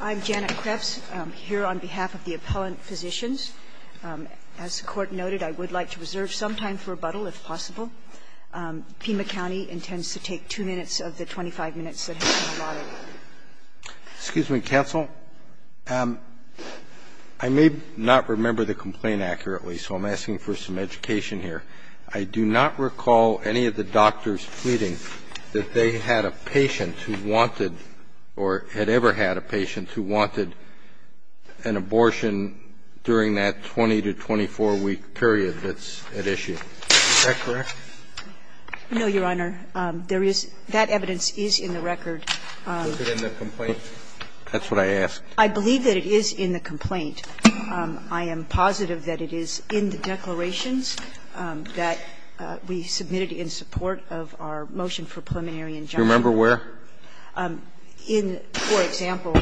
I'm Janet Krebs, here on behalf of the appellant physicians. As the Court noted, I would like to reserve some time for rebuttal, if possible. Pima County intends to take two minutes of the 25 minutes that have been allotted. Excuse me, counsel. I may not remember the complaint accurately, so I'm asking for some education here. I do not recall any of the doctors pleading that they had a patient who wanted or had ever had a patient who wanted an abortion during that 20 to 24-week period that's at issue. Is that correct? No, Your Honor. There is – that evidence is in the record. Is it in the complaint? That's what I asked. I believe that it is in the complaint. I am positive that it is in the declarations that we submitted in support of our motion for preliminary injunction. Do you remember where? In, for example,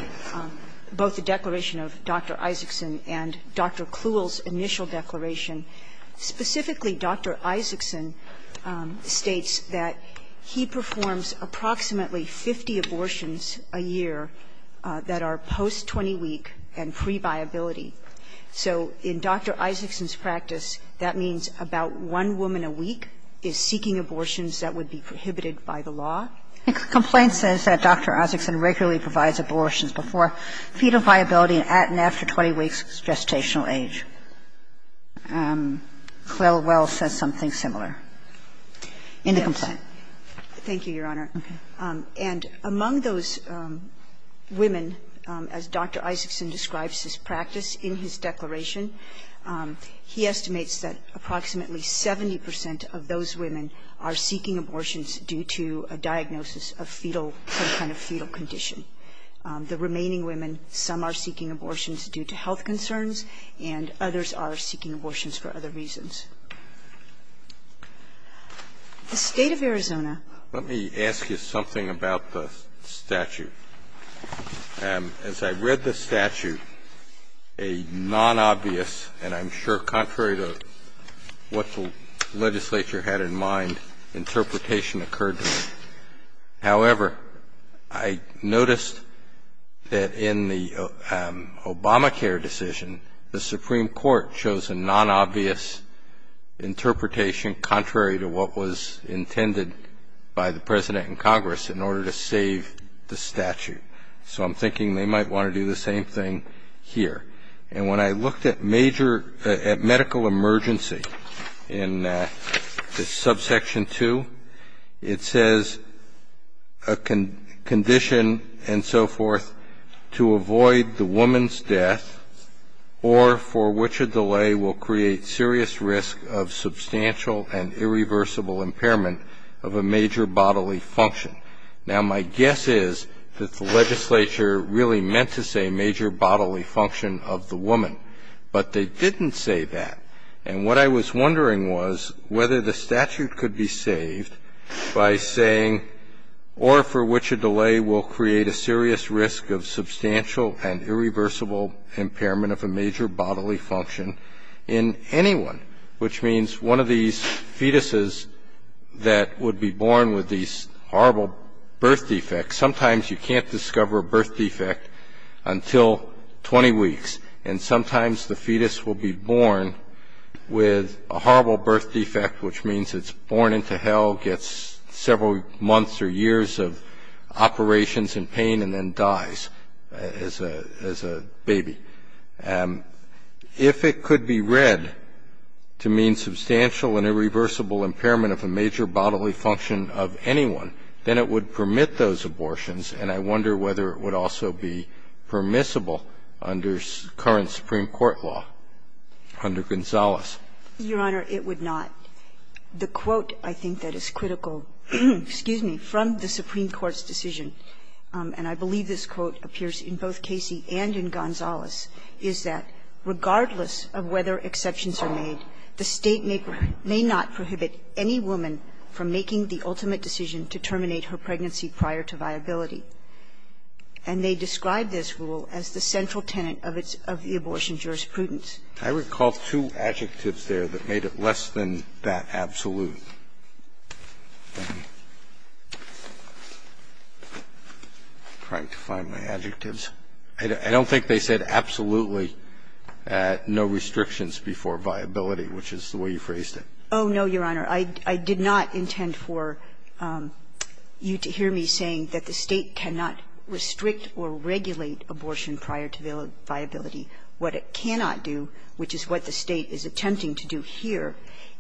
both the declaration of Dr. Isaacson and Dr. Kluhl's initial declaration, specifically Dr. Isaacson states that he performs approximately 50 abortions a year that are post-20-week and pre-viability. So in Dr. Isaacson's practice, that means about one woman a week is seeking abortions that would be prohibited by the law? The complaint says that Dr. Isaacson regularly provides abortions before fetal viability and at and after 20 weeks' gestational age. Kluhl well says something similar in the complaint. Thank you, Your Honor. And among those women, as Dr. Isaacson describes his practice in his declaration, he estimates that approximately 70 percent of those women are seeking abortions due to a diagnosis of fetal, some kind of fetal condition. The remaining women, some are seeking abortions due to health concerns, and others are seeking abortions for other reasons. The State of Arizona Let me ask you something about the statute. As I read the statute, a non-obvious, and I'm sure contrary to what the legislature had in mind, interpretation occurred to me. However, I noticed that in the Obamacare decision, the Supreme Court chose a non-obvious interpretation contrary to what was intended by the President and Congress in order to save the statute. So I'm thinking they might want to do the same thing here. And when I looked at medical emergency in subsection 2, it says a condition and so forth to avoid the woman's death or for which a delay will create serious risk of substantial and irreversible impairment of a major bodily function. Now my guess is that the legislature really meant to say major bodily function of the woman, but they didn't say that. And what I was wondering was whether the statute could be saved by saying or for which a delay will create a serious risk of substantial and irreversible impairment of a major bodily function in anyone, which means one of these fetuses that would be born with these horrible birth defects. Sometimes you can't discover a birth defect until 20 weeks, and sometimes the fetus will be born with a horrible birth defect, which means it's born into hell, gets several months or years of operations and pain, and then dies as a baby. If it could be read to mean substantial and irreversible impairment of a major bodily function of anyone, then it would permit those abortions, and I wonder whether it would also be permissible under current Supreme Court law, under Gonzales. Your Honor, it would not. The quote I think that is critical, excuse me, from the Supreme Court's decision, and I believe this quote appears in both Casey and in Gonzales, is that regardless of whether exceptions are made, the State may not prohibit any woman from making the ultimate decision to terminate her pregnancy prior to viability. And they describe this rule as the central tenet of the abortion jurisprudence. I recall two adjectives there that made it less than that absolute. I'm trying to find my adjectives. I don't think they said absolutely no restrictions before viability, which is the way you phrased it. Oh, no, Your Honor. I did not intend for you to hear me saying that the State cannot restrict or regulate abortion prior to viability. What it cannot do, which is what the State is attempting to do here,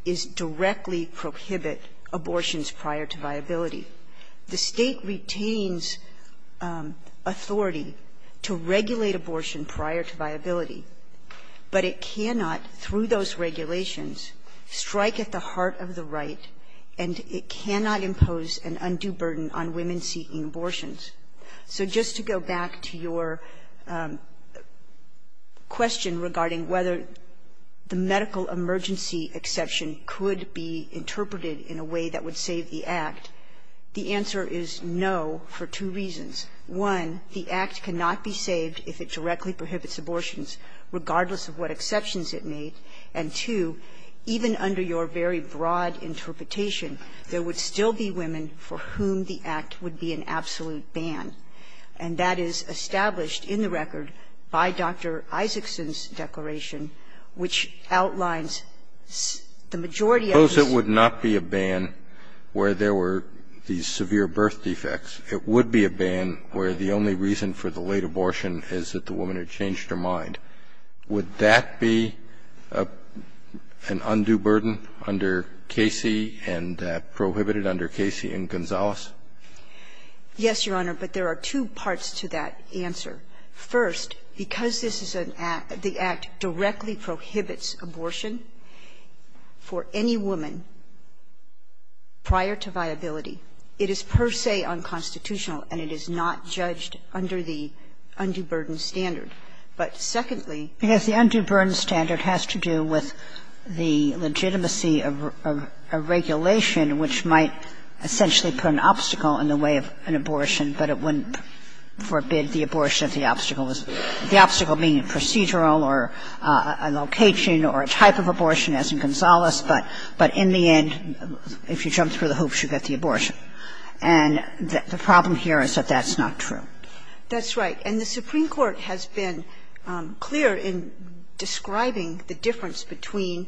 is directly prohibit abortions prior to viability. The State retains authority to regulate abortion prior to viability, but it cannot, through those regulations, strike at the heart of the right, and it cannot impose an undue burden on women seeking abortions. So just to go back to your question regarding whether the medical emergency exception could be interpreted in a way that would save the Act, the answer is no for two reasons. One, the Act cannot be saved if it directly prohibits abortions, regardless of what exceptions it made. And, two, even under your very broad interpretation, there would still be women for whom the Act would be an absolute ban, and that is established in the record by Dr. Isakson's declaration, which outlines the majority of this. It would not be a ban where there were these severe birth defects. It would be a ban where the only reason for the late abortion is that the woman had changed her mind. Would that be an undue burden under Casey and prohibited under Casey and Gonzales? Yes, Your Honor, but there are two parts to that answer. First, because this is an Act – the Act directly prohibits abortion for any woman prior to viability, it is per se unconstitutional, and it is not judged under the undue burden standard. But, secondly, because the undue burden standard has to do with the legitimacy of a regulation which might essentially put an obstacle in the way of an abortion, but it wouldn't forbid the abortion if the obstacle was – the obstacle being a procedural or a location or a type of abortion, as in Gonzales, but in the end, if you jump through the hoops, you get the abortion. And the problem here is that that's not true. That's right. And the Supreme Court has been clear in describing the difference between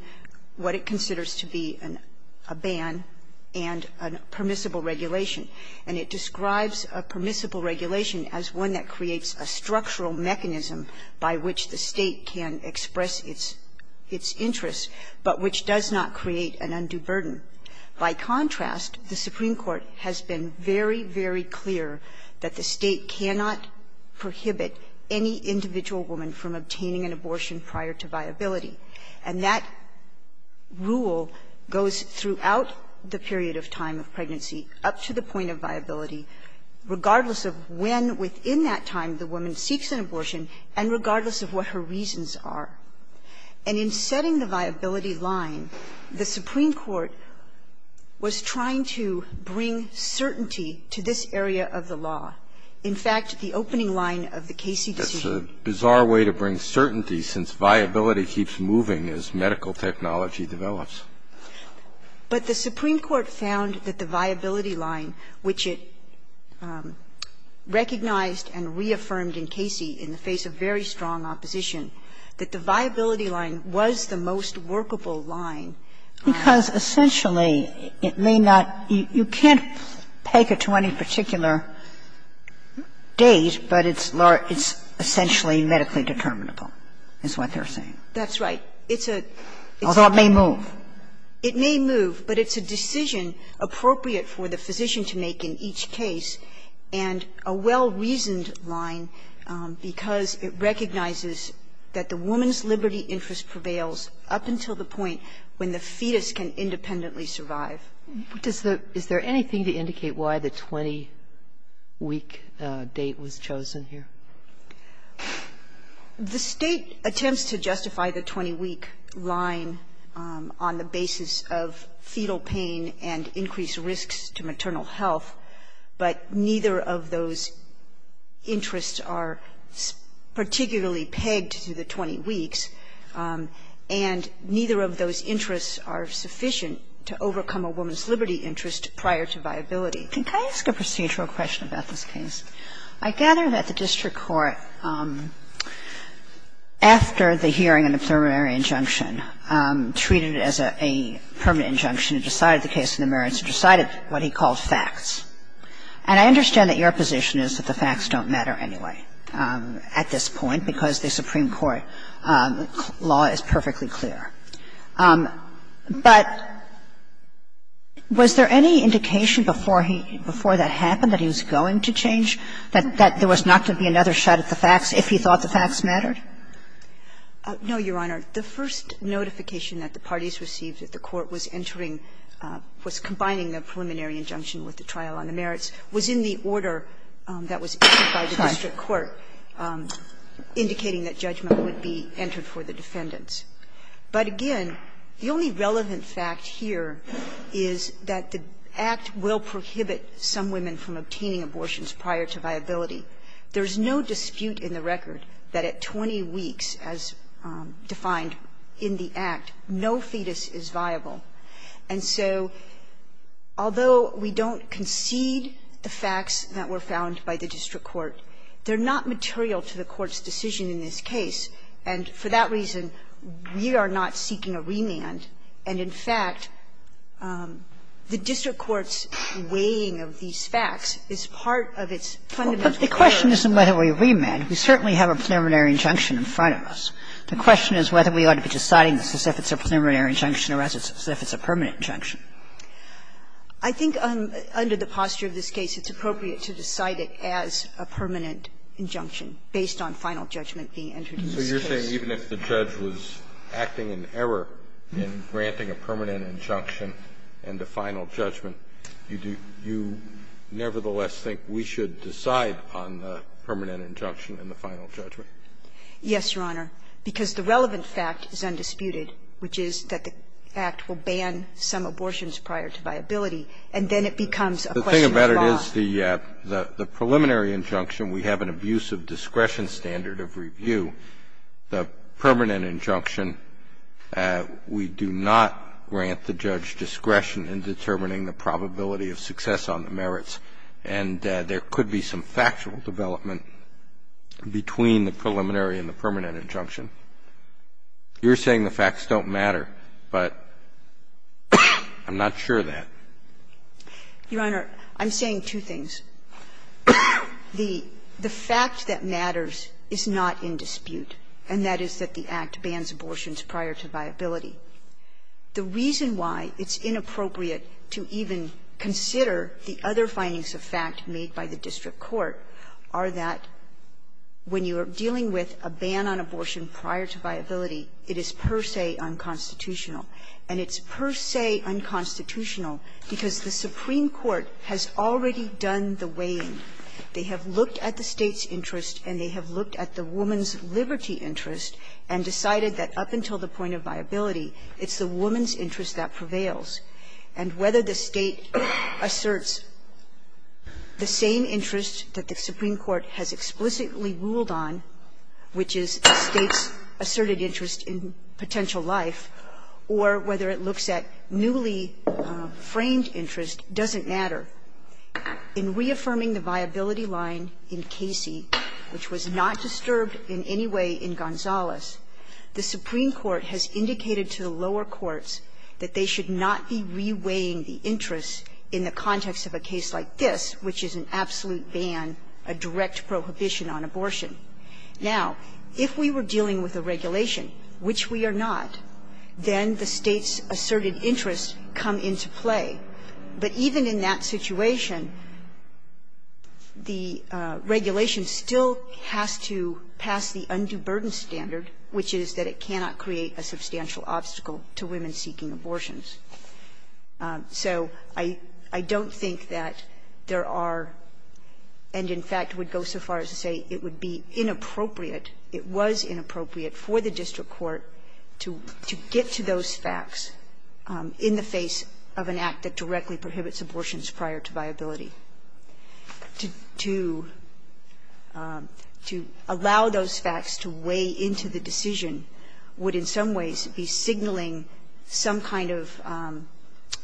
what it considers to be a ban and a permissible regulation. And it describes a permissible regulation as one that creates a structural mechanism by which the State can express its interests, but which does not create an undue burden. By contrast, the Supreme Court has been very, very clear that the State cannot prohibit any individual woman from obtaining an abortion prior to viability. And that rule goes throughout the period of time of pregnancy, up to the point of viability, regardless of when within that time the woman seeks an abortion, and regardless of what her reasons are. And in setting the viability line, the Supreme Court was trying to bring certainty to this area of the law. In fact, the opening line of the Casey decision – The Supreme Court found that the viability line, which it recognized and reaffirmed in Casey in the face of very strong opposition, that the viability line was the most workable line. Because essentially, it may not – you can't peg it to any particular date, but it's essentially medically determinable, is what they're saying. That's right. It's a – Although it may move. It may move, but it's a decision appropriate for the physician to make in each case and a well-reasoned line because it recognizes that the woman's liberty interest prevails up until the point when the fetus can independently survive. Does the – is there anything to indicate why the 20-week date was chosen here? The State attempts to justify the 20-week line on the basis of fetal pain and increased risks to maternal health, but neither of those interests are particularly pegged to the 20 weeks, and neither of those interests are sufficient to overcome a woman's liberty interest prior to viability. Can I ask a procedural question about this case? I gather that the district court, after the hearing and the preliminary injunction, treated it as a permanent injunction and decided the case in the merits and decided what he called facts. And I understand that your position is that the facts don't matter anyway at this point because the Supreme Court law is perfectly clear. But was there any indication before he – before that happened that he was going to change, that there was not to be another shot at the facts if he thought the facts mattered? No, Your Honor. The first notification that the parties received that the court was entering – was combining the preliminary injunction with the trial on the merits was in the order that was issued by the district court, indicating that judgment would be entered for the defendants. But again, the only relevant fact here is that the Act will prohibit some women from obtaining abortions prior to viability. There's no dispute in the record that at 20 weeks, as defined in the Act, no fetus is viable. And so although we don't concede the facts that were found by the district court, they're not material to the court's decision in this case. And for that reason, we are not seeking a remand. And in fact, the district court's weighing of these facts is part of its fundamental purpose. But the question isn't whether we remand. We certainly have a preliminary injunction in front of us. The question is whether we ought to be deciding this as if it's a preliminary injunction or as if it's a permanent injunction. I think under the posture of this case, it's appropriate to decide it as a permanent injunction based on final judgment being entered in this case. Kennedy, you're saying even if the judge was acting in error in granting a permanent injunction and a final judgment, you nevertheless think we should decide on the permanent injunction and the final judgment? Yes, Your Honor, because the relevant fact is undisputed, which is that the Act will ban some abortions prior to viability, and then it becomes a question of law. Your Honor, it is the preliminary injunction. We have an abuse of discretion standard of review. The permanent injunction, we do not grant the judge discretion in determining the probability of success on the merits, and there could be some factual development between the preliminary and the permanent injunction. You're saying the facts don't matter, but I'm not sure of that. Your Honor, I'm saying two things. The fact that matters is not in dispute, and that is that the Act bans abortions prior to viability. The reason why it's inappropriate to even consider the other findings of fact made by the district court are that when you are dealing with a ban on abortion prior to viability, it is per se unconstitutional, and it's per se unconstitutional because the Supreme Court has already done the weighing. They have looked at the State's interest and they have looked at the woman's liberty interest and decided that up until the point of viability, it's the woman's interest that prevails. And whether the State asserts the same interest that the Supreme Court has explicitly ruled on, which is the State's asserted interest in potential life, or whether it looks at newly framed interest, doesn't matter. In reaffirming the viability line in Casey, which was not disturbed in any way in Gonzales, the Supreme Court has indicated to the lower courts that they should not be reweighing the interest in the context of a case like this, which is an absolute ban, a direct prohibition on abortion. Now, if we were dealing with a regulation, which we are not, then the State's asserted interest come into play. But even in that situation, the regulation still has to pass the undue burden standard, which is that it cannot create a substantial obstacle to women seeking abortions. So I don't think that there are, and in fact would go so far as to say it would be inappropriate, it was inappropriate for the district court to get to those facts in the face of an act that directly prohibits abortions prior to viability. To allow those facts to weigh into the decision would in some ways be signaling some kind of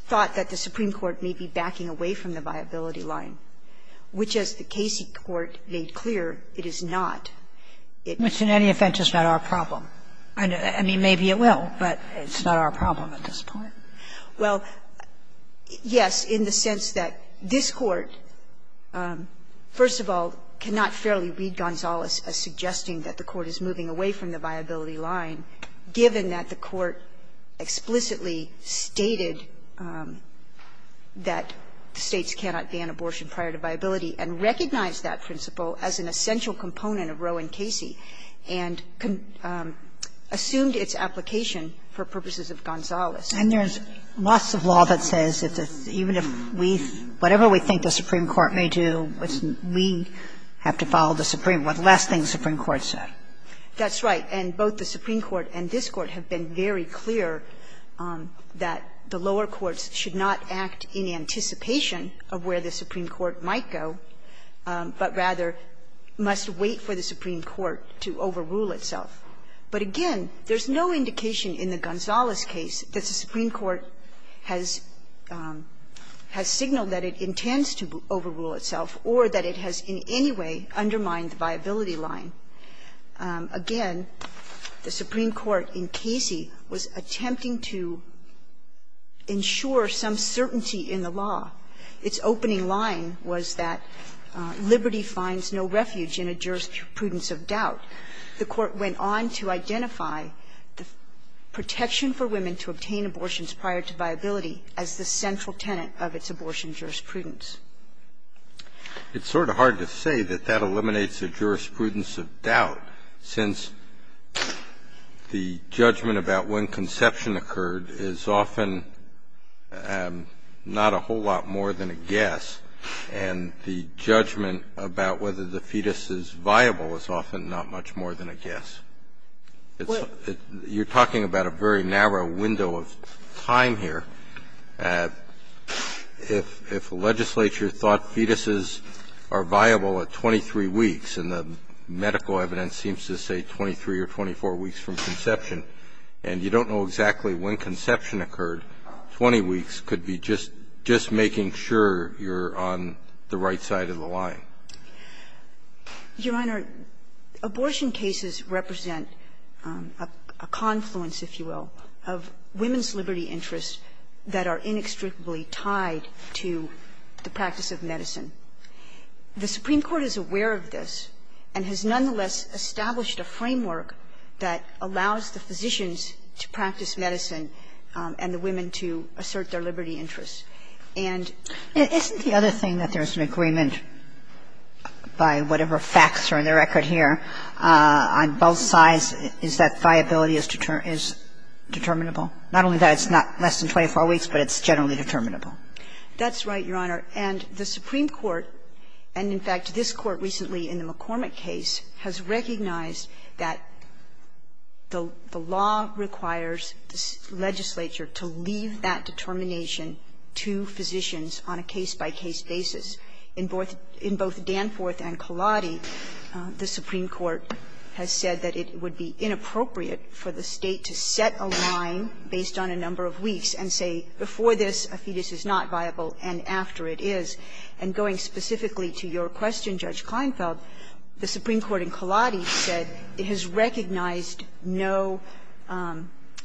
thought that the Supreme Court may be backing away from the viability line, which, as the Casey court made clear, it is not. It's not our problem. I mean, maybe it will, but it's not our problem at this point. Well, yes, in the sense that this Court, first of all, cannot fairly read Gonzales as suggesting that the Court is moving away from the viability line, given that the prior to viability and recognize that principle as an essential component of Roe and Casey, and assumed its application for purposes of Gonzales. And there's lots of law that says that even if we, whatever we think the Supreme Court may do, we have to follow the Supreme, what last thing the Supreme Court said. That's right. And both the Supreme Court and this Court have been very clear that the lower courts should not act in anticipation of where the Supreme Court might go, but rather must wait for the Supreme Court to overrule itself. But again, there's no indication in the Gonzales case that the Supreme Court has signaled that it intends to overrule itself or that it has in any way undermined the viability line. Again, the Supreme Court in Casey was attempting to ensure that the viability line was there for some certainty in the law. Its opening line was that liberty finds no refuge in a jurisprudence of doubt. The Court went on to identify the protection for women to obtain abortions prior to viability as the central tenet of its abortion jurisprudence. It's sort of hard to say that that eliminates a jurisprudence of doubt, since the jurisprudence of doubt is not a whole lot more than a guess, and the judgment about whether the fetus is viable is often not much more than a guess. You're talking about a very narrow window of time here. If the legislature thought fetuses are viable at 23 weeks, and the medical evidence seems to say 23 or 24 weeks from conception, and you don't know exactly when conception occurred, 20 weeks could be just making sure you're on the right side of the line. Your Honor, abortion cases represent a confluence, if you will, of women's liberty interests that are inextricably tied to the practice of medicine. The Supreme Court is aware of this and has nonetheless established a framework that allows the physicians to practice medicine and the women to assert their liberty interests. And the other thing that there's an agreement by whatever facts are in the record here on both sides is that viability is determinable. Not only that it's not less than 24 weeks, but it's generally determinable. That's right, Your Honor. And the Supreme Court, and in fact this Court recently in the McCormick case, has recognized that the law requires the legislature to leave that determination to physicians on a case-by-case basis. In both Danforth and Cullaty, the Supreme Court has said that it would be inappropriate for the State to set a line based on a number of weeks and say, before this, a fetus is not viable, and after it is. And going specifically to your question, Judge Kleinfeld, the Supreme Court in Cullaty said it has recognized no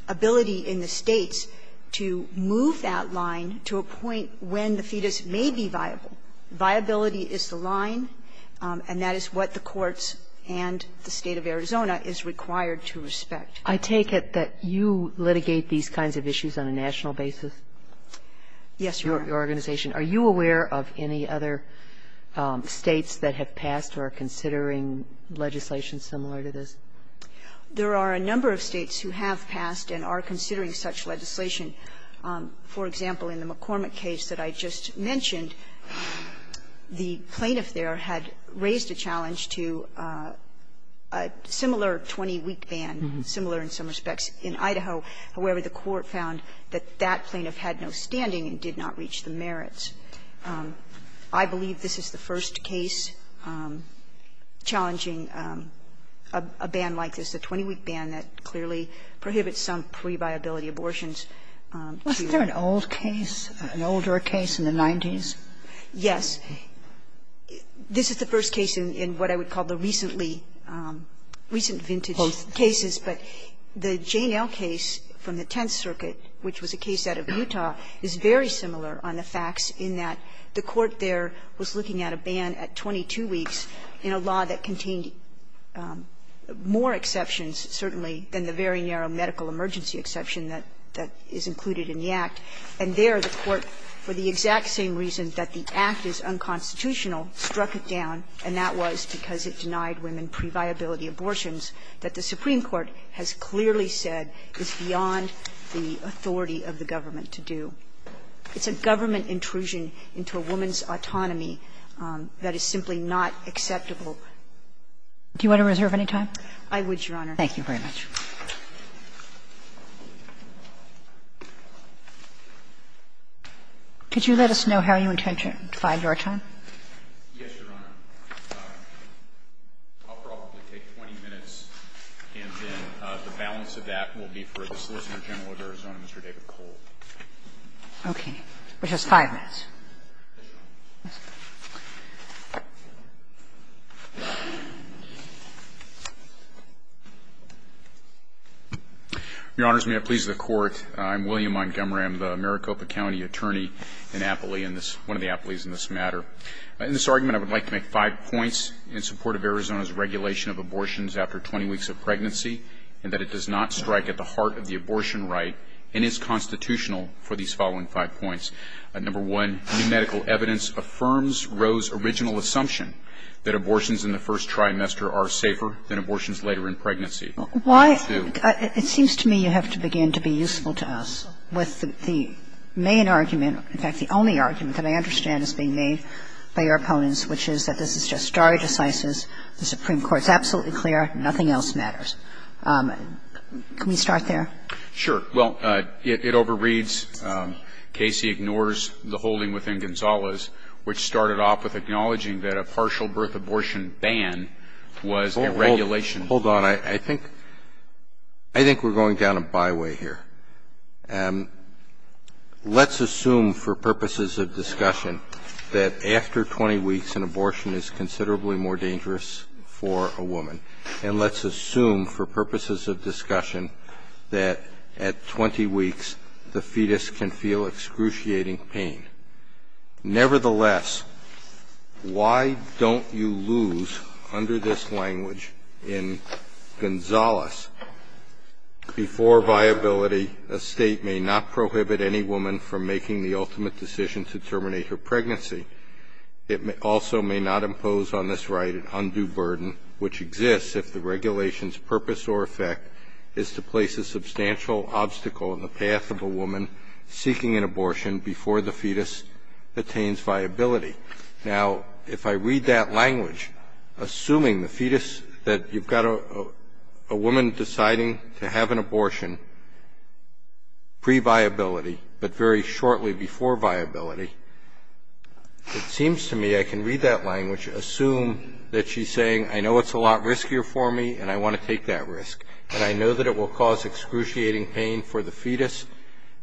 ability in the States to move that line to a point when the fetus may be viable. Viability is the line, and that is what the courts and the State of Arizona is required to respect. I take it that you litigate these kinds of issues on a national basis? Yes, Your Honor. Your organization. Are you aware of any other States that have passed or are considering legislation similar to this? There are a number of States who have passed and are considering such legislation. For example, in the McCormick case that I just mentioned, the plaintiff there had raised a challenge to a similar 20-week ban, similar in some respects in Idaho. However, the court found that that plaintiff had no standing and did not reach the merits. I believe this is the first case challenging a ban like this, a 20-week ban that clearly prohibits some pre-viability abortions. Wasn't there an old case, an older case in the 90s? Yes. This is the first case in what I would call the recently, recent vintage cases. But the Jane L. case from the Tenth Circuit, which was a case out of Utah, is very similar on the facts in that the court there was looking at a ban at 22 weeks in a law that contained more exceptions, certainly, than the very narrow medical emergency exception that is included in the Act. And there the court, for the exact same reason that the Act is unconstitutional, struck it down, and that was because it denied women pre-viability abortions that the Supreme Court has clearly said is beyond the authority of the government to do. It's a government intrusion into a woman's autonomy that is simply not acceptable. Do you want to reserve any time? I would, Your Honor. Thank you very much. Could you let us know how you intend to find your time? Yes, Your Honor. I'll probably take 20 minutes, and then the balance of that will be for the Solicitor General of Arizona, Mr. David Cole. Okay. Which is 5 minutes. Yes, Your Honor. Yes. Your Honors, may it please the Court. I'm William Montgomery. I'm the Maricopa County attorney in Appley, in this one of the Appleys in this matter. In this argument, I would like to make five points in support of Arizona's regulation of abortions after 20 weeks of pregnancy, and that it does not strike at the heart of the abortion right and is constitutional for these following five points. Number one, new medical evidence affirms Roe's original assumption that abortions in the first trimester are safer than abortions later in pregnancy. Why? It seems to me you have to begin to be useful to us with the main argument, in fact, the only argument that I understand is being made by your opponents, which is that this is just stare decisis, the Supreme Court is absolutely clear, nothing else matters. Can we start there? Sure. Well, it overreads Casey ignores the holding within Gonzales, which started off with acknowledging that a partial birth abortion ban was a regulation. Hold on. I think we're going down a byway here. Let's assume for purposes of discussion that after 20 weeks an abortion is considerably more dangerous for a woman, and let's assume for purposes of discussion that at 20 weeks the fetus can feel excruciating pain. Nevertheless, why don't you lose under this language in Gonzales before viability a state may not prohibit any woman from making the ultimate decision to terminate her pregnancy, it also may not impose on this right an undue burden which exists if the regulation's purpose or effect is to place a substantial obstacle in the path of a woman seeking an abortion before the fetus attains viability. Now, if I read that language, assuming the fetus that you've got a woman deciding to have an abortion previability, but very shortly before viability, it seems to me I can read that language, assume that she's saying I know it's a lot riskier for me and I want to take that risk, and I know that it will cause excruciating pain for the fetus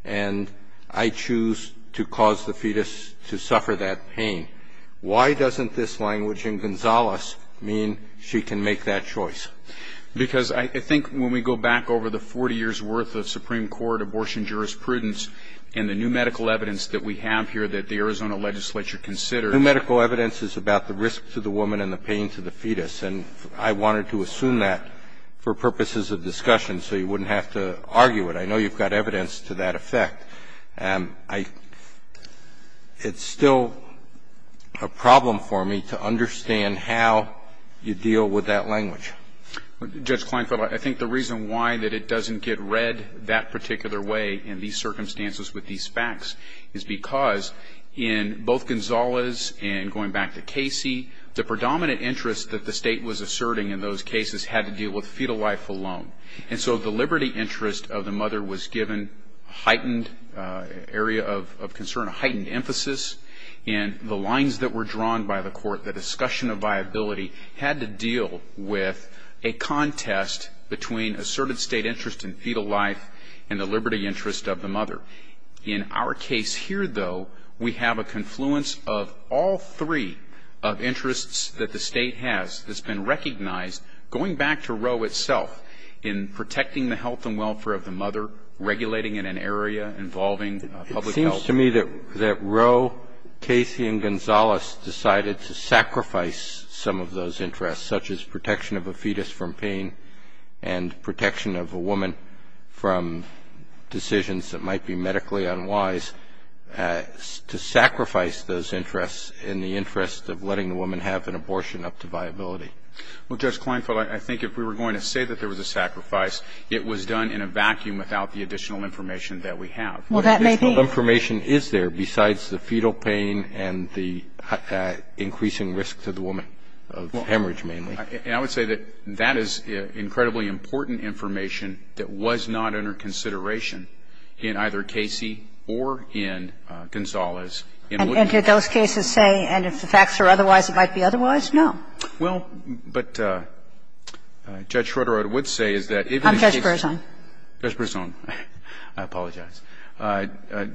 and I choose to cause the fetus to suffer that pain. Why doesn't this language in Gonzales mean she can make that choice? Because I think when we go back over the 40 years' worth of Supreme Court abortion jurisprudence and the new medical evidence that we have here that the Arizona legislature considers. New medical evidence is about the risk to the woman and the pain to the fetus, and I wanted to assume that for purposes of discussion so you wouldn't have to argue it. I know you've got evidence to that effect. It's still a problem for me to understand how you can do that. Judge Kleinfeld, I think the reason why it doesn't get read that particular way in these circumstances with these facts is because in both Gonzales and going back to Casey, the predominant interest that the state was asserting in those cases had to deal with fetal life alone. And so the liberty interest of the mother was given a heightened area of concern, a heightened emphasis, and the lines that were drawn by the court, the discussion of viability had to deal with a contest between asserted state interest in fetal life and the liberty interest of the mother. In our case here, though, we have a confluence of all three of interests that the state has that's been recognized, going back to Roe itself, in protecting the health and welfare of the mother, regulating in an area involving public health. And it seems to me that Roe, Casey, and Gonzales decided to sacrifice some of those interests, such as protection of a fetus from pain and protection of a woman from decisions that might be medically unwise, to sacrifice those interests in the interest of letting the woman have an abortion up to viability. Well, Judge Kleinfeld, I think if we were going to say that there was a sacrifice, it was done in a vacuum without the additional information that we have. Well, that may be. What information is there besides the fetal pain and the increasing risk to the woman, hemorrhage mainly? And I would say that that is incredibly important information that was not under consideration in either Casey or in Gonzales. And did those cases say, and if the facts are otherwise, it might be otherwise? No. Well, but Judge Schroeder, I would say is that even in case of the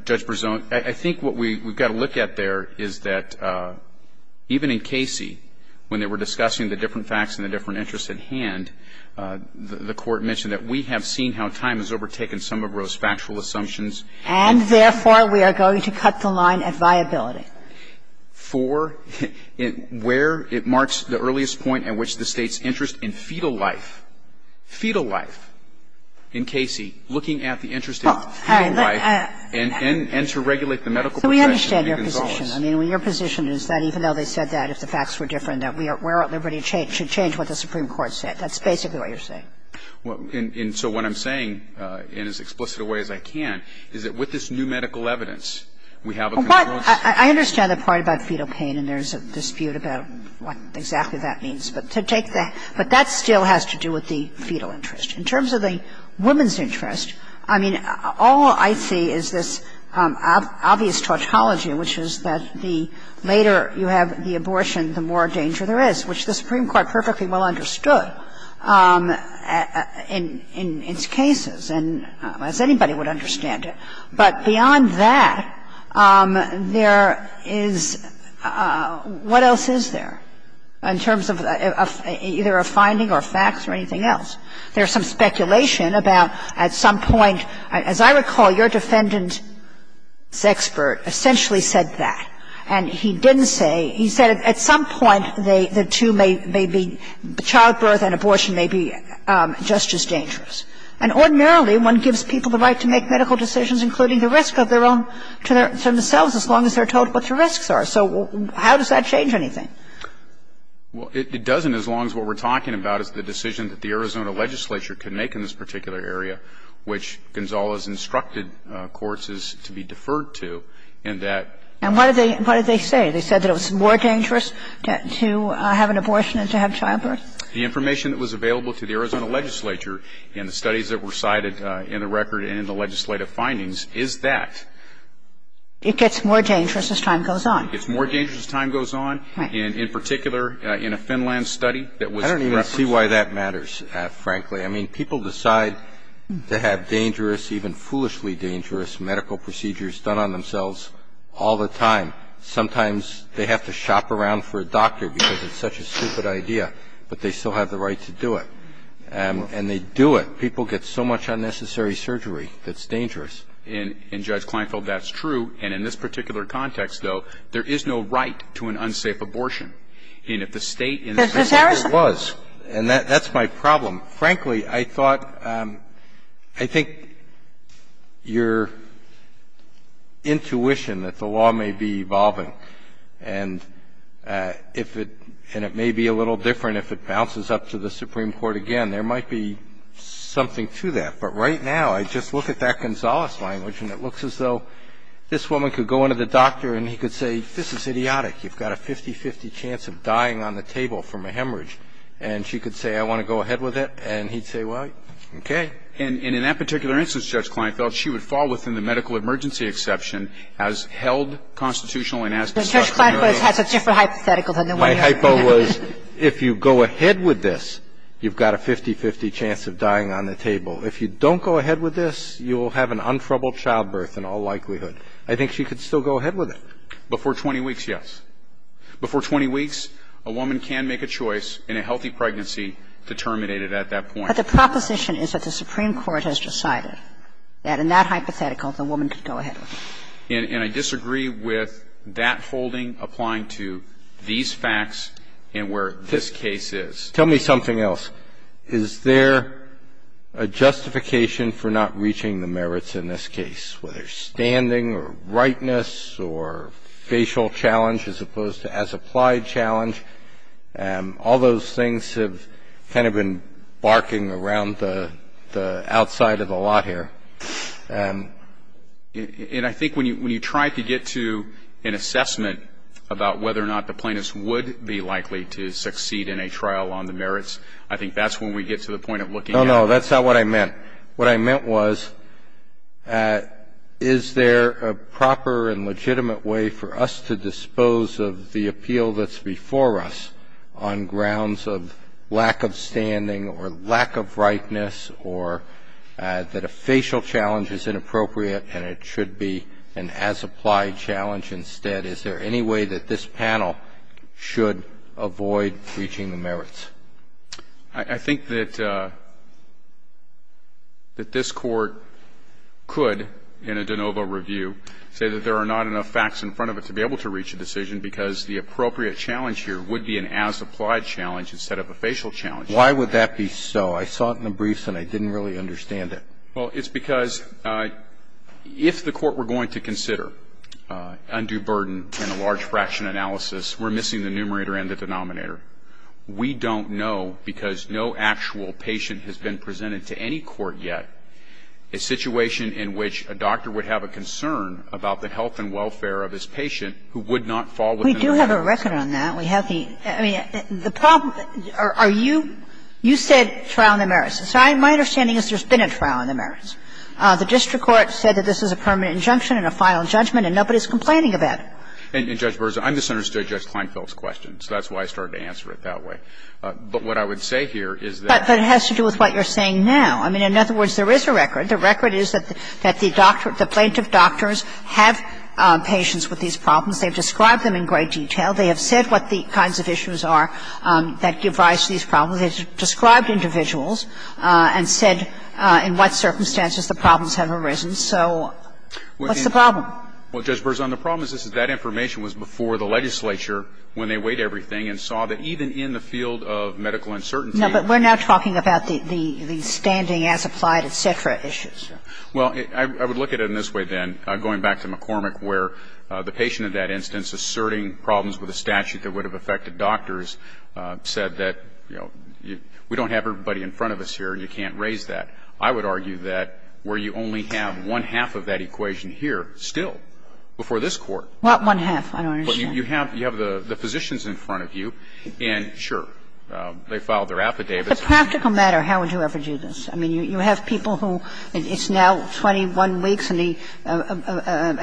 case of Roe, I think what we've got to look at there is that even in Casey, when they were discussing the different facts and the different interests at hand, the Court mentioned that we have seen how time has overtaken some of Roe's factual assumptions. And therefore, we are going to cut the line at viability. Four, where it marks the earliest point at which the State's interest in fetal life, fetal life, in Casey, looking at the interest in fetal life and to regulate the medical profession in Gonzales. So we understand your position. I mean, your position is that even though they said that, if the facts were different, that we are at liberty to change what the Supreme Court said. That's basically what you're saying. And so what I'm saying, in as explicit a way as I can, is that with this new medical evidence, we have a control system. I understand the part about fetal pain, and there's a dispute about what exactly that means. But to take the – but that still has to do with the fetal interest. In terms of the woman's interest, I mean, all I see is this obvious tautology, which is that the later you have the abortion, the more danger there is, which the Supreme Court perfectly well understood in its cases, and as anybody would understand it. But beyond that, there is – what else is there in terms of either a finding or facts or anything else? There's some speculation about at some point – as I recall, your defendant's expert essentially said that. And he didn't say – he said at some point, the two may be – childbirth and abortion may be just as dangerous. And ordinarily, one gives people the right to make medical decisions, including the risk of their own – to themselves, as long as they're told what the risks are. So how does that change anything? Well, it doesn't as long as what we're talking about is the decision that the Arizona legislature could make in this particular area, which Gonzales instructed courts to be deferred to, and that – And what did they say? They said that it was more dangerous to have an abortion than to have childbirth? The information that was available to the Arizona legislature in the studies that were cited in the record and in the legislative findings is that. It gets more dangerous as time goes on? It gets more dangerous as time goes on. Right. And in particular, in a Finland study that was referenced – I don't even see why that matters, frankly. I mean, people decide to have dangerous, even foolishly dangerous, medical procedures done on themselves all the time. Sometimes they have to shop around for a doctor because it's such a stupid idea, but they still have the right to do it. And they do it. People get so much unnecessary surgery that's dangerous. And, Judge Kleinfeld, that's true. And in this particular context, though, there is no right to an unsafe abortion. And if the State – Justice Harris? It was. And that's my problem. Frankly, I thought – I think your intuition that the law may be evolving and that it may be a little different if it bounces up to the Supreme Court again, there might be something to that. But right now, I just look at that Gonzales language and it looks as though this woman could go into the doctor and he could say, this is idiotic, you've got a 50-50 chance of dying on the table from a hemorrhage. And she could say, I want to go ahead with it, and he'd say, well, okay. And in that particular instance, Judge Kleinfeld, she would fall within the medical emergency exception as held constitutional and as discussed in the other – But Judge Kleinfeld has a different hypothetical than the one you're – My hypo was, if you go ahead with this, you've got a 50-50 chance of dying on the table. If you don't go ahead with this, you will have an untroubled childbirth in all likelihood. I think she could still go ahead with it. Before 20 weeks, yes. Before 20 weeks, a woman can make a choice in a healthy pregnancy to terminate it at that point. But the proposition is that the Supreme Court has decided that in that hypothetical, the woman can go ahead with it. And I disagree with that holding applying to these facts and where this case is. Tell me something else. Is there a justification for not reaching the merits in this case, whether standing or rightness or facial challenge as opposed to as-applied challenge? All those things have kind of been barking around the outside of the lot here. And I think when you try to get to an assessment about whether or not the plaintiff's would be likely to succeed in a trial on the merits, I think that's when we get to the point of looking at – No, no. That's not what I meant. What I meant was, is there a proper and legitimate way for us to dispose of the appeal that's before us on grounds of lack of standing or lack of rightness or that a facial challenge is inappropriate and it should be an as-applied challenge instead? Is there any way that this panel should avoid reaching the merits? I think that this Court could, in a de novo review, say that there are not enough But I would say that the appropriate challenge here would be an as-applied challenge instead of a facial challenge. Why would that be so? I saw it in the briefs and I didn't really understand it. Well, it's because if the Court were going to consider undue burden in a large fraction analysis, we're missing the numerator and the denominator. We don't know because no actual patient has been presented to any court yet a situation in which a doctor would have a concern about the health and welfare of his patient who would not fall within the merits. We do have a record on that. We have the – I mean, the problem – are you – you said trial on the merits. So my understanding is there's been a trial on the merits. The district court said that this is a permanent injunction and a final judgment and nobody's complaining about it. And, Judge Burson, I misunderstood Judge Kleinfeld's question, so that's why I started to answer it that way. But what I would say here is that – But it has to do with what you're saying now. I mean, in other words, there is a record. The record is that the doctor – the plaintiff doctors have patients with these problems. They've described them in great detail. They have said what the kinds of issues are that give rise to these problems. They've described individuals and said in what circumstances the problems have arisen. So what's the problem? Well, Judge Burson, the problem is that that information was before the legislature when they weighed everything and saw that even in the field of medical uncertainty – No, but we're not talking about the standing as applied, et cetera, issues. Well, I would look at it in this way, then, going back to McCormick, where the patient in that instance asserting problems with a statute that would have affected doctors said that, you know, we don't have everybody in front of us here and you can't raise that. I would argue that where you only have one-half of that equation here still before this Court – What one-half? I don't understand. You have the physicians in front of you, and sure, they filed their affidavits. But practical matter, how would you ever do this? I mean, you have people who – it's now 21 weeks, and at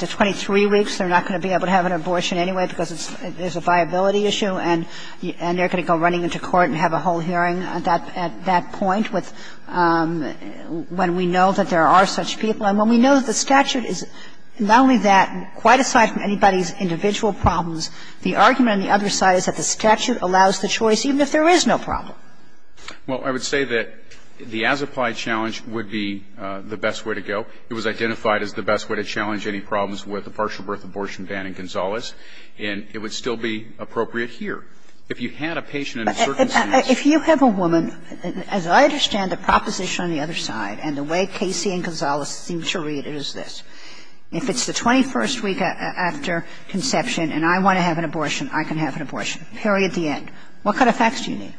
the 23 weeks, they're not going to be able to have an abortion anyway because it's a viability issue, and they're going to go running into court and have a whole hearing at that point with when we know that there are such people and when we know the statute is not only that, quite aside from anybody's individual problems, the argument on the other side is that the statute allows the choice even if there is no problem. Well, I would say that the as-applied challenge would be the best way to go. It was identified as the best way to challenge any problems with a partial birth abortion ban in Gonzales, and it would still be appropriate here. If you had a patient in a certain sense – If you have a woman, as I understand the proposition on the other side and the way Casey and Gonzales seem to read it as this, if it's the 21st week after conception and I want to have an abortion, I can have an abortion, period, the end. What kind of facts do you need?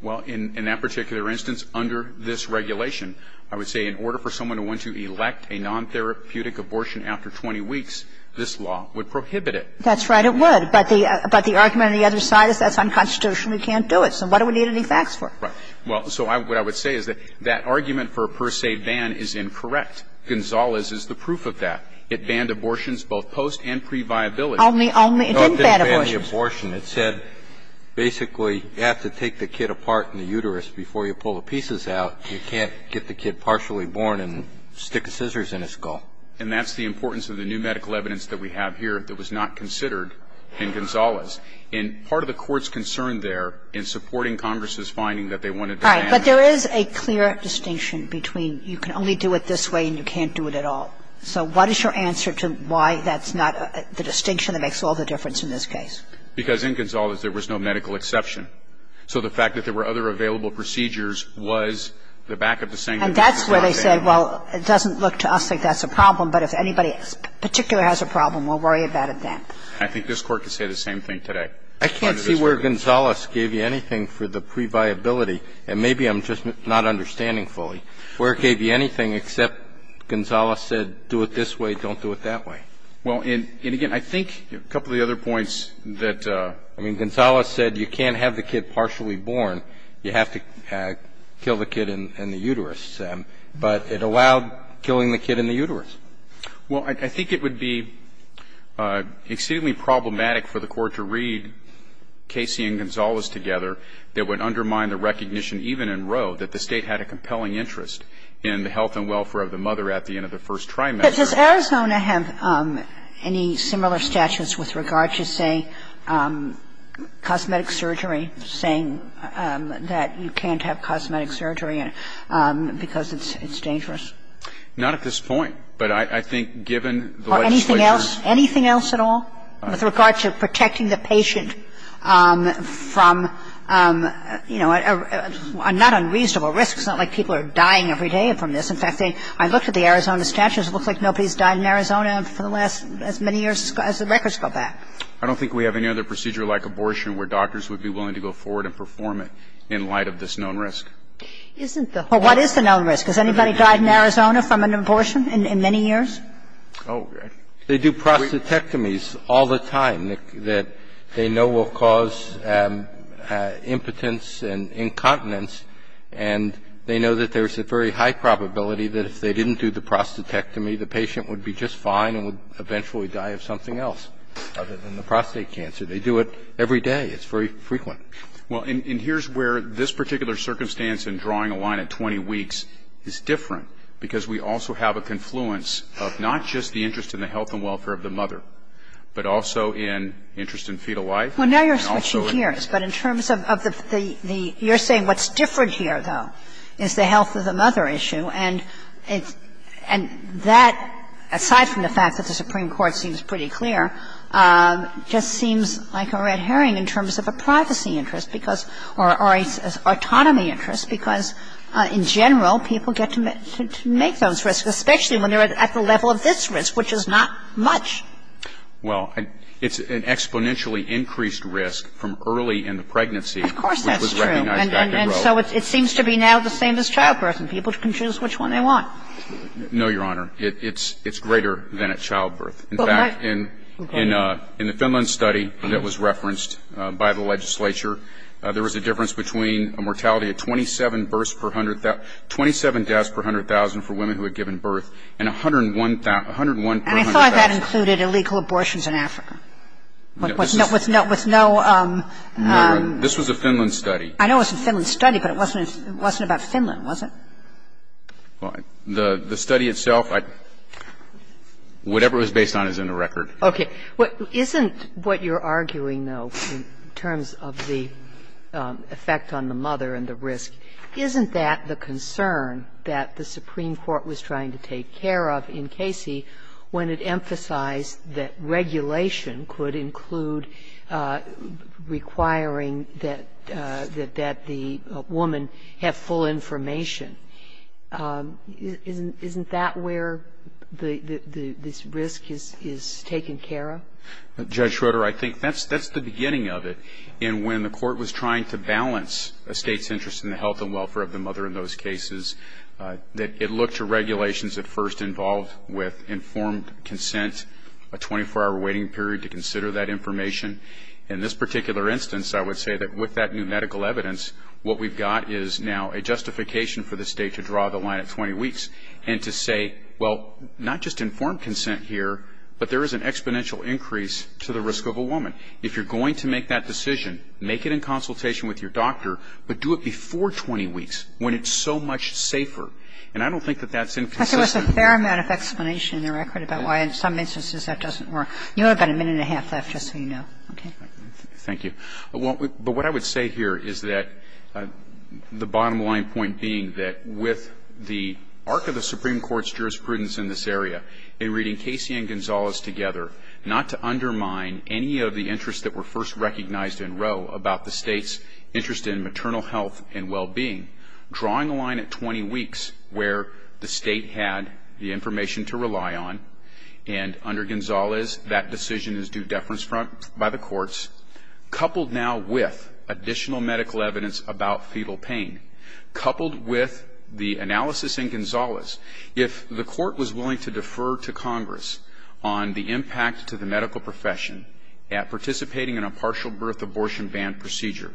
Well, in that particular instance, under this regulation, I would say in order for someone to want to elect a non-therapeutic abortion after 20 weeks, this law would prohibit it. That's right, it would. But the argument on the other side is that's unconstitutional. We can't do it. So what do we need any facts for? Well, so what I would say is that that argument for a per se ban is incorrect. Gonzales is the proof of that. It banned abortions both post and pre-viability. Only – it didn't ban abortions. It didn't ban the abortion. It said basically you have to take the kid apart in the uterus. Before you pull the pieces out, you can't get the kid partially born and stick scissors in his skull. And that's the importance of the new medical evidence that we have here that was not considered in Gonzales. And part of the Court's concern there in supporting Congress's finding that they wanted to ban it. Right. But there is a clear distinction between you can only do it this way and you can't do it at all. So what is your answer to why that's not the distinction that makes all the difference in this case? Because in Gonzales, there was no medical exception. So the fact that there were other available procedures was the back of the saying that this was not a ban. And that's where they said, well, it doesn't look to us like that's a problem, but if anybody in particular has a problem, we'll worry about it then. I think this Court could say the same thing today. I can't see where Gonzales gave you anything for the previability, and maybe I'm just not understanding fully, where it gave you anything except Gonzales said do it this way, don't do it that way. Well, and again, I think a couple of the other points that ---- I mean, Gonzales said you can't have the kid partially born. You have to kill the kid in the uterus. But it allowed killing the kid in the uterus. Well, I think it would be exceedingly problematic for the Court to read Casey and Gonzales together that would undermine the recognition, even in Roe, that the State had a compelling interest in the health and welfare of the mother at the end of the first trimester. But does Arizona have any similar statutes with regard to, say, cosmetic surgery, saying that you can't have cosmetic surgery because it's dangerous? Not at this point. But I think given the legislature's ---- Or anything else? Anything else at all with regard to protecting the patient from, you know, not unreasonable risks, not like people are dying every day from this. In fact, I looked at the Arizona statutes. It looks like nobody's died in Arizona for the last as many years as the records go back. I don't think we have any other procedure like abortion where doctors would be willing to go forward and perform it in light of this known risk. Isn't the whole ---- Well, what is the known risk? Does anybody die in Arizona from an abortion in many years? They do prostatectomies all the time that they know will cause impotence and incontinence. And they know that there's a very high probability that if they didn't do the prostatectomy, the patient would be just fine and would eventually die of something else other than the prostate cancer. They do it every day. It's very frequent. Well, and here's where this particular circumstance in drawing a line at 20 weeks is different, because we also have a confluence of not just the interest in the health and welfare of the mother, but also in interest in fetal life and also in the health of the mother. Well, now you're switching gears. But in terms of the ---- you're saying what's different here, though, is the health of the mother issue, and it's ---- and that, aside from the fact that the Supreme Court seems pretty clear, just seems like a red herring in terms of a privacy interest because ---- or autonomy interest, because in general, people get to make those risks, especially when they're at the level of this risk, which is not much. Well, it's an exponentially increased risk from early in the pregnancy. Of course that's true. And so it seems to be now the same as childbirth, and people can choose which one they want. No, Your Honor. It's greater than at childbirth. In fact, in the Finland study that was referenced by the legislature, there was a difference between a mortality of 27 births per 100,000 ---- 27 deaths per 100,000 for women who had given birth, and 101 per 100,000. And I thought that included illegal abortions in Africa. No. With no ---- No, Your Honor. This was a Finland study. I know it was a Finland study, but it wasn't about Finland, was it? Well, the study itself, I ---- whatever it was based on is in the record. Okay. Isn't what you're arguing, though, in terms of the effect on the mother and the risk, isn't that the concern that the Supreme Court was trying to take care of in Casey when it emphasized that regulation could include requiring that the woman have full information? Isn't that where this risk is taken care of? Judge Schroeder, I think that's the beginning of it. And when the Court was trying to balance a State's interest in the health and welfare of the mother in those cases, it looked to regulations at first involved with informed consent, a 24-hour waiting period to consider that information. In this particular instance, I would say that with that new medical evidence, what we've got is now a justification for the State to draw the line at 20 weeks and to say, well, not just informed consent here, but there is an exponential increase to the risk of a woman. If you're going to make that decision, make it in consultation with your doctor, but do it before 20 weeks when it's so much safer. And I don't think that that's inconsistent. But there was a fair amount of explanation in the record about why in some instances that doesn't work. You only have about a minute and a half left, just so you know. Okay. Thank you. But what I would say here is that the bottom line point being that with the arc of the Supreme Court's jurisprudence in this area, in reading Casey and Gonzales together, not to undermine any of the interests that were first recognized in Roe about the State's interest in maternal health and well-being, drawing the line at 20 weeks where the State had the information to rely on, and under Gonzales that decision is due deference by the courts, coupled now with additional medical evidence about fetal pain, coupled with the analysis in Gonzales, if the court was willing to defer to Congress on the impact to the medical profession at participating in a partial birth abortion ban procedure,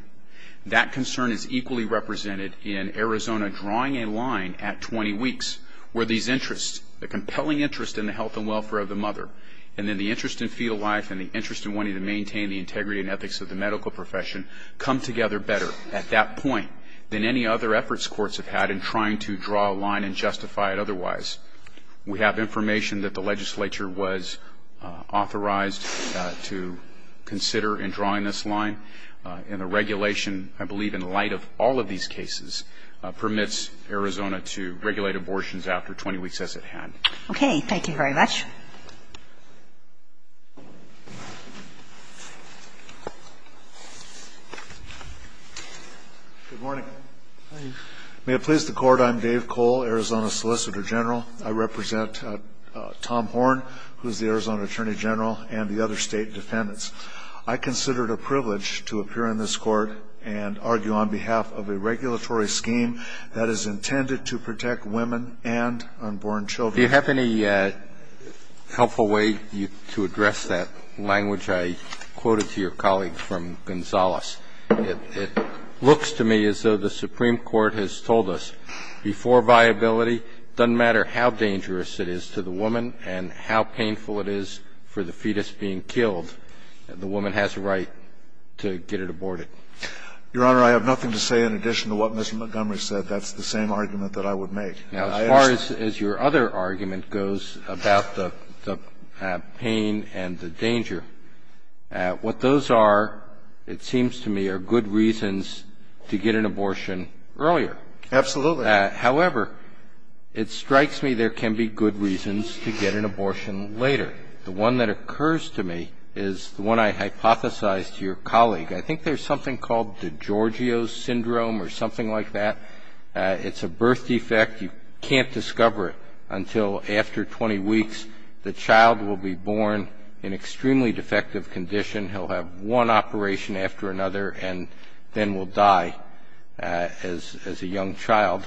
that concern is equally represented in Arizona drawing a line at 20 weeks where these interests, the compelling interest in the health and welfare of the mother, and then the interest in fetal life and the interest in wanting to maintain the integrity and ethics of the medical profession, come together better at that point than any other efforts courts have had in trying to draw a line and justify it otherwise. We have information that the legislature was authorized to consider in drawing this line, and the regulation, I believe in light of all of these cases, permits Arizona to regulate abortions after 20 weeks as it had. Okay. Thank you very much. Good morning. Hi. May it please the Court, I'm Dave Cole, Arizona Solicitor General. I represent Tom Horne, who is the Arizona Attorney General, and the other State defendants. I considered a privilege to appear in this Court and argue on behalf of a regulatory scheme that is intended to protect women and unborn children. Do you have any evidence that you can give to support this? Your Honor, I have nothing to say in addition to what Mr. Montgomery said. Now, as far as your other argument goes about the possibility of abortion, I think it's a very helpful way to address that language. I quoted to your colleague from Gonzales, it looks to me as though the Supreme Court has told us before viability, it doesn't matter how dangerous it is to the woman and how painful it is for the fetus being killed, the woman has a right to get it aborted. Your Honor, I have nothing to say in addition to what Mr. Montgomery said. That's the same argument that I would make. Now, as far as your other argument goes about the pain and the danger, what those are, it seems to me, are good reasons to get an abortion earlier. Absolutely. However, it strikes me there can be good reasons to get an abortion later. The one that occurs to me is the one I hypothesized to your colleague. I think there's something called DiGiorgio's Syndrome or something like that. It's a birth defect. You can't discover it until after 20 weeks. The child will be born in extremely defective condition. He'll have one operation after another and then will die as a young child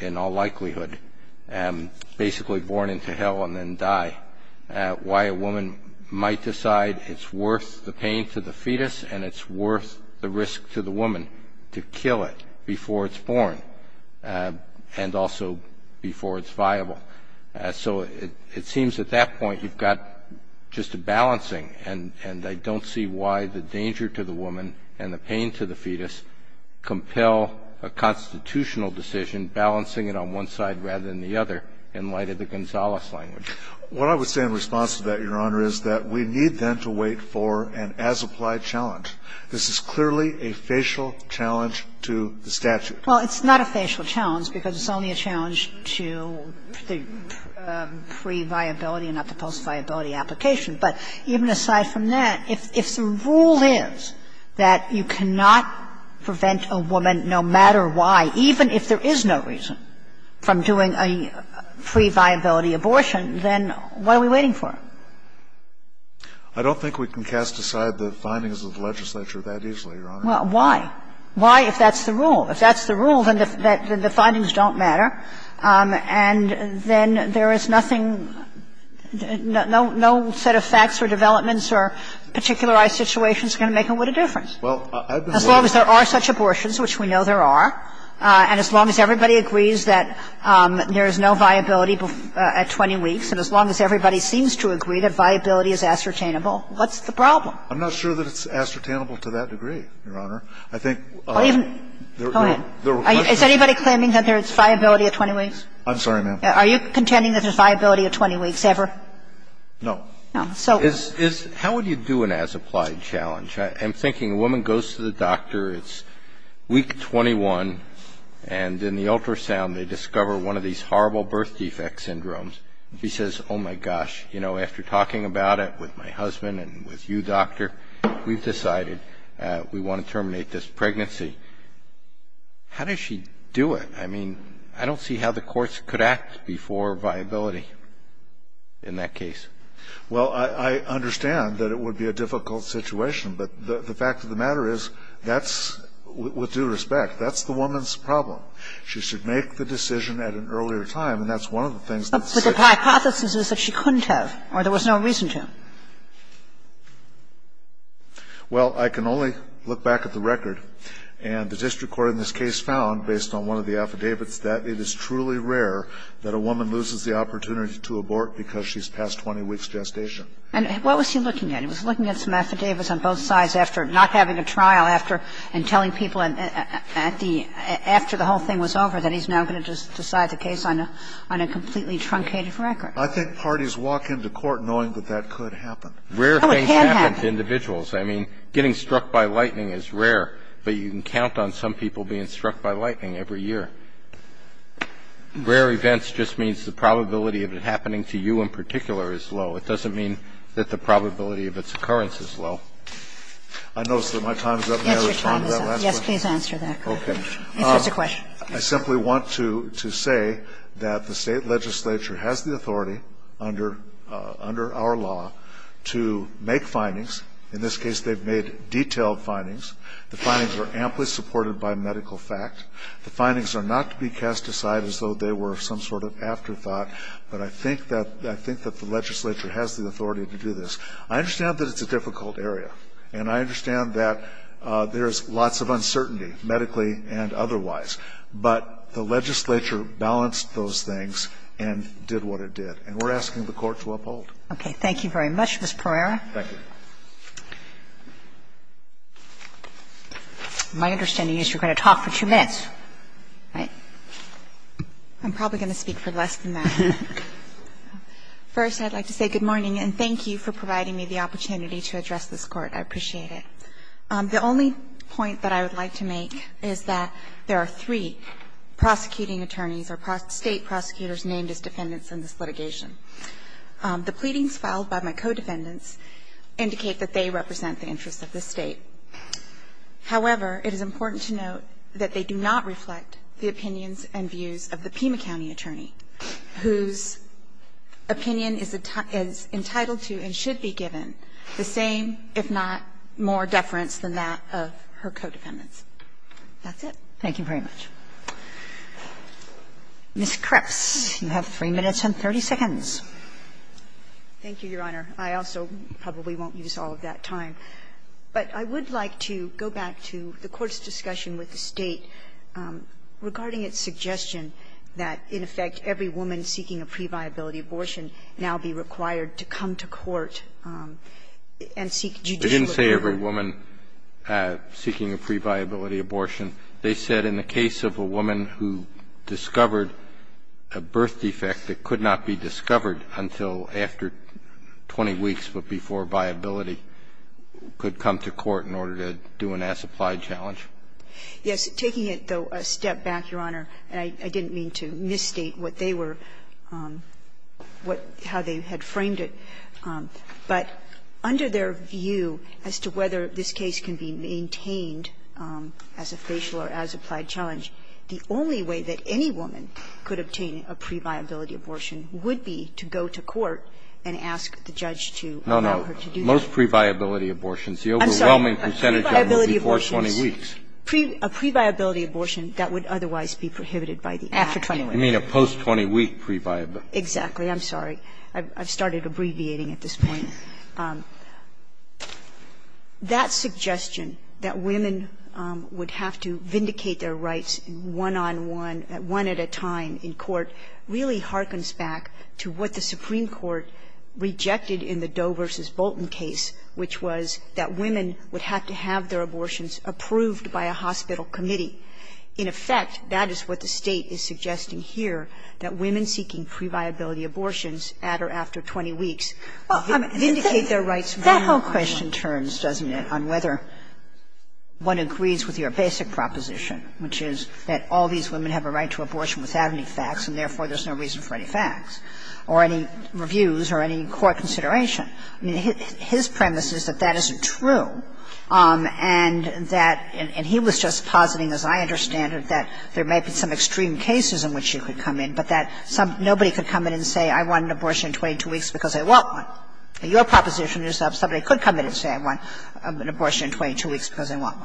in all likelihood, basically born into hell and then die. Why a woman might decide it's worth the pain to the fetus and it's worth the risk to the woman to kill it before it's born and also before it's viable. So it seems at that point you've got just a balancing and I don't see why the danger to the woman and the pain to the fetus compel a constitutional decision balancing it on one side rather than the other in light of the Gonzales language. What I would say in response to that, Your Honor, is that we need then to wait for an as-applied challenge. This is clearly a facial challenge to the statute. Well, it's not a facial challenge because it's only a challenge to the pre-viability and not the post-viability application. But even aside from that, if the rule is that you cannot prevent a woman no matter why, even if there is no reason from doing a pre-viability abortion, then what are we waiting for? I don't think we can cast aside the findings of legislature that easily, Your Honor. Well, why? Why, if that's the rule? If that's the rule, then the findings don't matter. And then there is nothing, no set of facts or developments or particularized situations are going to make a lot of difference. As long as there are such abortions, which we know there are, and as long as everybody agrees that there is no viability at 20 weeks, and as long as everybody seems to agree that viability is ascertainable, what's the problem? I'm not sure that it's ascertainable to that degree, Your Honor. I think there were questions. Is anybody claiming that there is viability at 20 weeks? I'm sorry, ma'am. Are you contending that there is viability at 20 weeks ever? No. No. So. How would you do an as-applied challenge? I'm thinking a woman goes to the doctor, it's week 21, and in the ultrasound they discover one of these horrible birth defect syndromes. She says, oh, my gosh, you know, after talking about it with my husband and with you, doctor, we've decided we want to terminate this pregnancy. How does she do it? I mean, I don't see how the courts could act before viability in that case. Well, I understand that it would be a difficult situation. But the fact of the matter is that's, with due respect, that's the woman's problem. She should make the decision at an earlier time. And that's one of the things that's said. But the hypothesis is that she couldn't have or there was no reason to. Well, I can only look back at the record. And the district court in this case found, based on one of the affidavits, that it is truly rare that a woman loses the opportunity to abort because she's past 20 weeks' gestation. And what was he looking at? He was looking at some affidavits on both sides after not having a trial, after and telling people after the whole thing was over that he's now going to just decide the case on a completely truncated record. I think parties walk into court knowing that that could happen. Oh, it had happened. Rare things happen to individuals. I mean, getting struck by lightning is rare. But you can count on some people being struck by lightning every year. Rare events just means the probability of it happening to you in particular is low. It doesn't mean that the probability of its occurrence is low. I notice that my time is up. May I respond to that last question? Yes, your time is up. Yes, please answer that. Answer the question. I simply want to say that the state legislature has the authority under our law to make findings. In this case, they've made detailed findings. The findings are amply supported by medical fact. The findings are not to be cast aside as though they were some sort of afterthought. But I think that the legislature has the authority to do this. I understand that it's a difficult area, and I understand that there's lots of uncertainty, medically and otherwise. But the legislature balanced those things and did what it did. And we're asking the Court to uphold. Okay. Thank you very much, Mr. Pereira. Thank you. My understanding is you're going to talk for two minutes, right? I'm probably going to speak for less than that. First, I'd like to say good morning and thank you for providing me the opportunity to address this Court. I appreciate it. The only point that I would like to make is that there are three prosecuting attorneys or state prosecutors named as defendants in this litigation. The pleadings filed by my co-defendants indicate that they represent the interests of this State. However, it is important to note that they do not reflect the opinions and views of the Pima County attorney, whose opinion is entitled to and should be given the same, if not more, deference than that of her co-defendants. That's it. Thank you very much. Ms. Krebs, you have 3 minutes and 30 seconds. Thank you, Your Honor. I also probably won't use all of that time. But I would like to go back to the Court's discussion with the State regarding its suggestion that, in effect, every woman seeking a previability abortion now be required to come to court and seek judicial agreement. They didn't say every woman seeking a previability abortion. They said in the case of a woman who discovered a birth defect that could not be discovered until after 20 weeks, but before viability, could come to court in order to do an as-applied challenge. Yes. Taking it, though, a step back, Your Honor, and I didn't mean to misstate what they were, how they had framed it, but under their view as to whether this case can be maintained as a facial or as-applied challenge, the only way that any woman could obtain a previability abortion would be to go to court and ask the judge to allow her to do that. No, no. Most previability abortions, the overwhelming percentage of them before 20 weeks. I'm sorry. Previability abortions, a previability abortion that would otherwise be prohibited by the Act. After 20 weeks. I mean a post-20-week previability. Exactly. I'm sorry. I've started abbreviating at this point. That suggestion that women would have to vindicate their rights one on one, one at a time in court, really harkens back to what the Supreme Court rejected in the Doe v. Bolton case, which was that women would have to have their abortions approved by a hospital committee. In effect, that is what the State is suggesting here, that women seeking previability abortions at or after 20 weeks vindicate their rights one on one. That whole question turns, doesn't it, on whether one agrees with your basic proposition, which is that all these women have a right to abortion without any facts, and therefore there's no reason for any facts or any reviews or any court consideration. I mean, his premise is that that isn't true, and that he was just positing, as I understand it, that there may be some extreme cases in which you could come in, but that nobody could come in and say, I want an abortion in 22 weeks because I want one. Your proposition is that somebody could come in and say, I want an abortion in 22 weeks because I want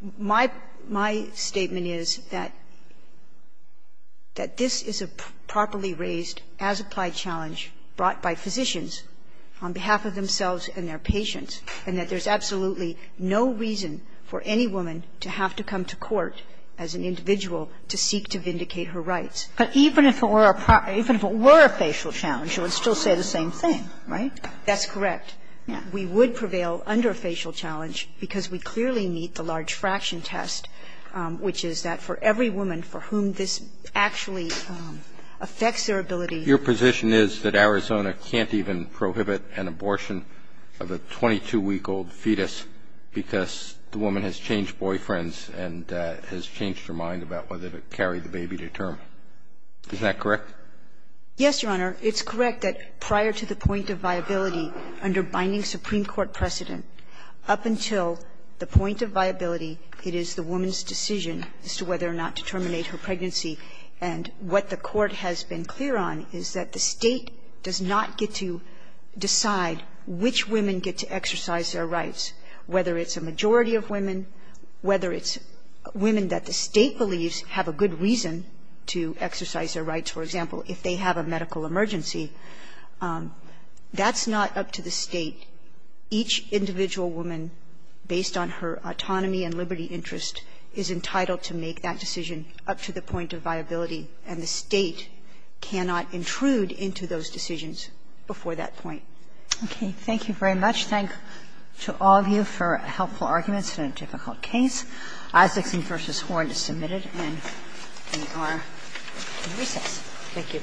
one. My statement is that this is a properly raised, as-applied challenge brought by physicians on behalf of themselves and their patients, and that there's absolutely no reason for any woman to have to come to court as an individual to seek to vindicate her rights. But even if it were a facial challenge, you would still say the same thing, right? That's correct. We would prevail under a facial challenge because we clearly meet the large fraction test, which is that for every woman for whom this actually affects their ability Your position is that Arizona can't even prohibit an abortion of a 22-week-old fetus because the woman has changed boyfriends and has changed her mind about whether to carry the baby to term. Is that correct? Yes, Your Honor. It's correct that prior to the point of viability under binding Supreme Court precedent, up until the point of viability, it is the woman's decision as to whether or not to is that the State does not get to decide which women get to exercise their rights, whether it's a majority of women, whether it's women that the State believes have a good reason to exercise their rights. For example, if they have a medical emergency, that's not up to the State. Each individual woman, based on her autonomy and liberty interest, is entitled to make that decision up to the point of viability, and the State cannot intrude into those decisions before that point. Okay. Thank you very much. Thank to all of you for helpful arguments in a difficult case. I 16 v. Horn is submitted, and we are in recess. Thank you.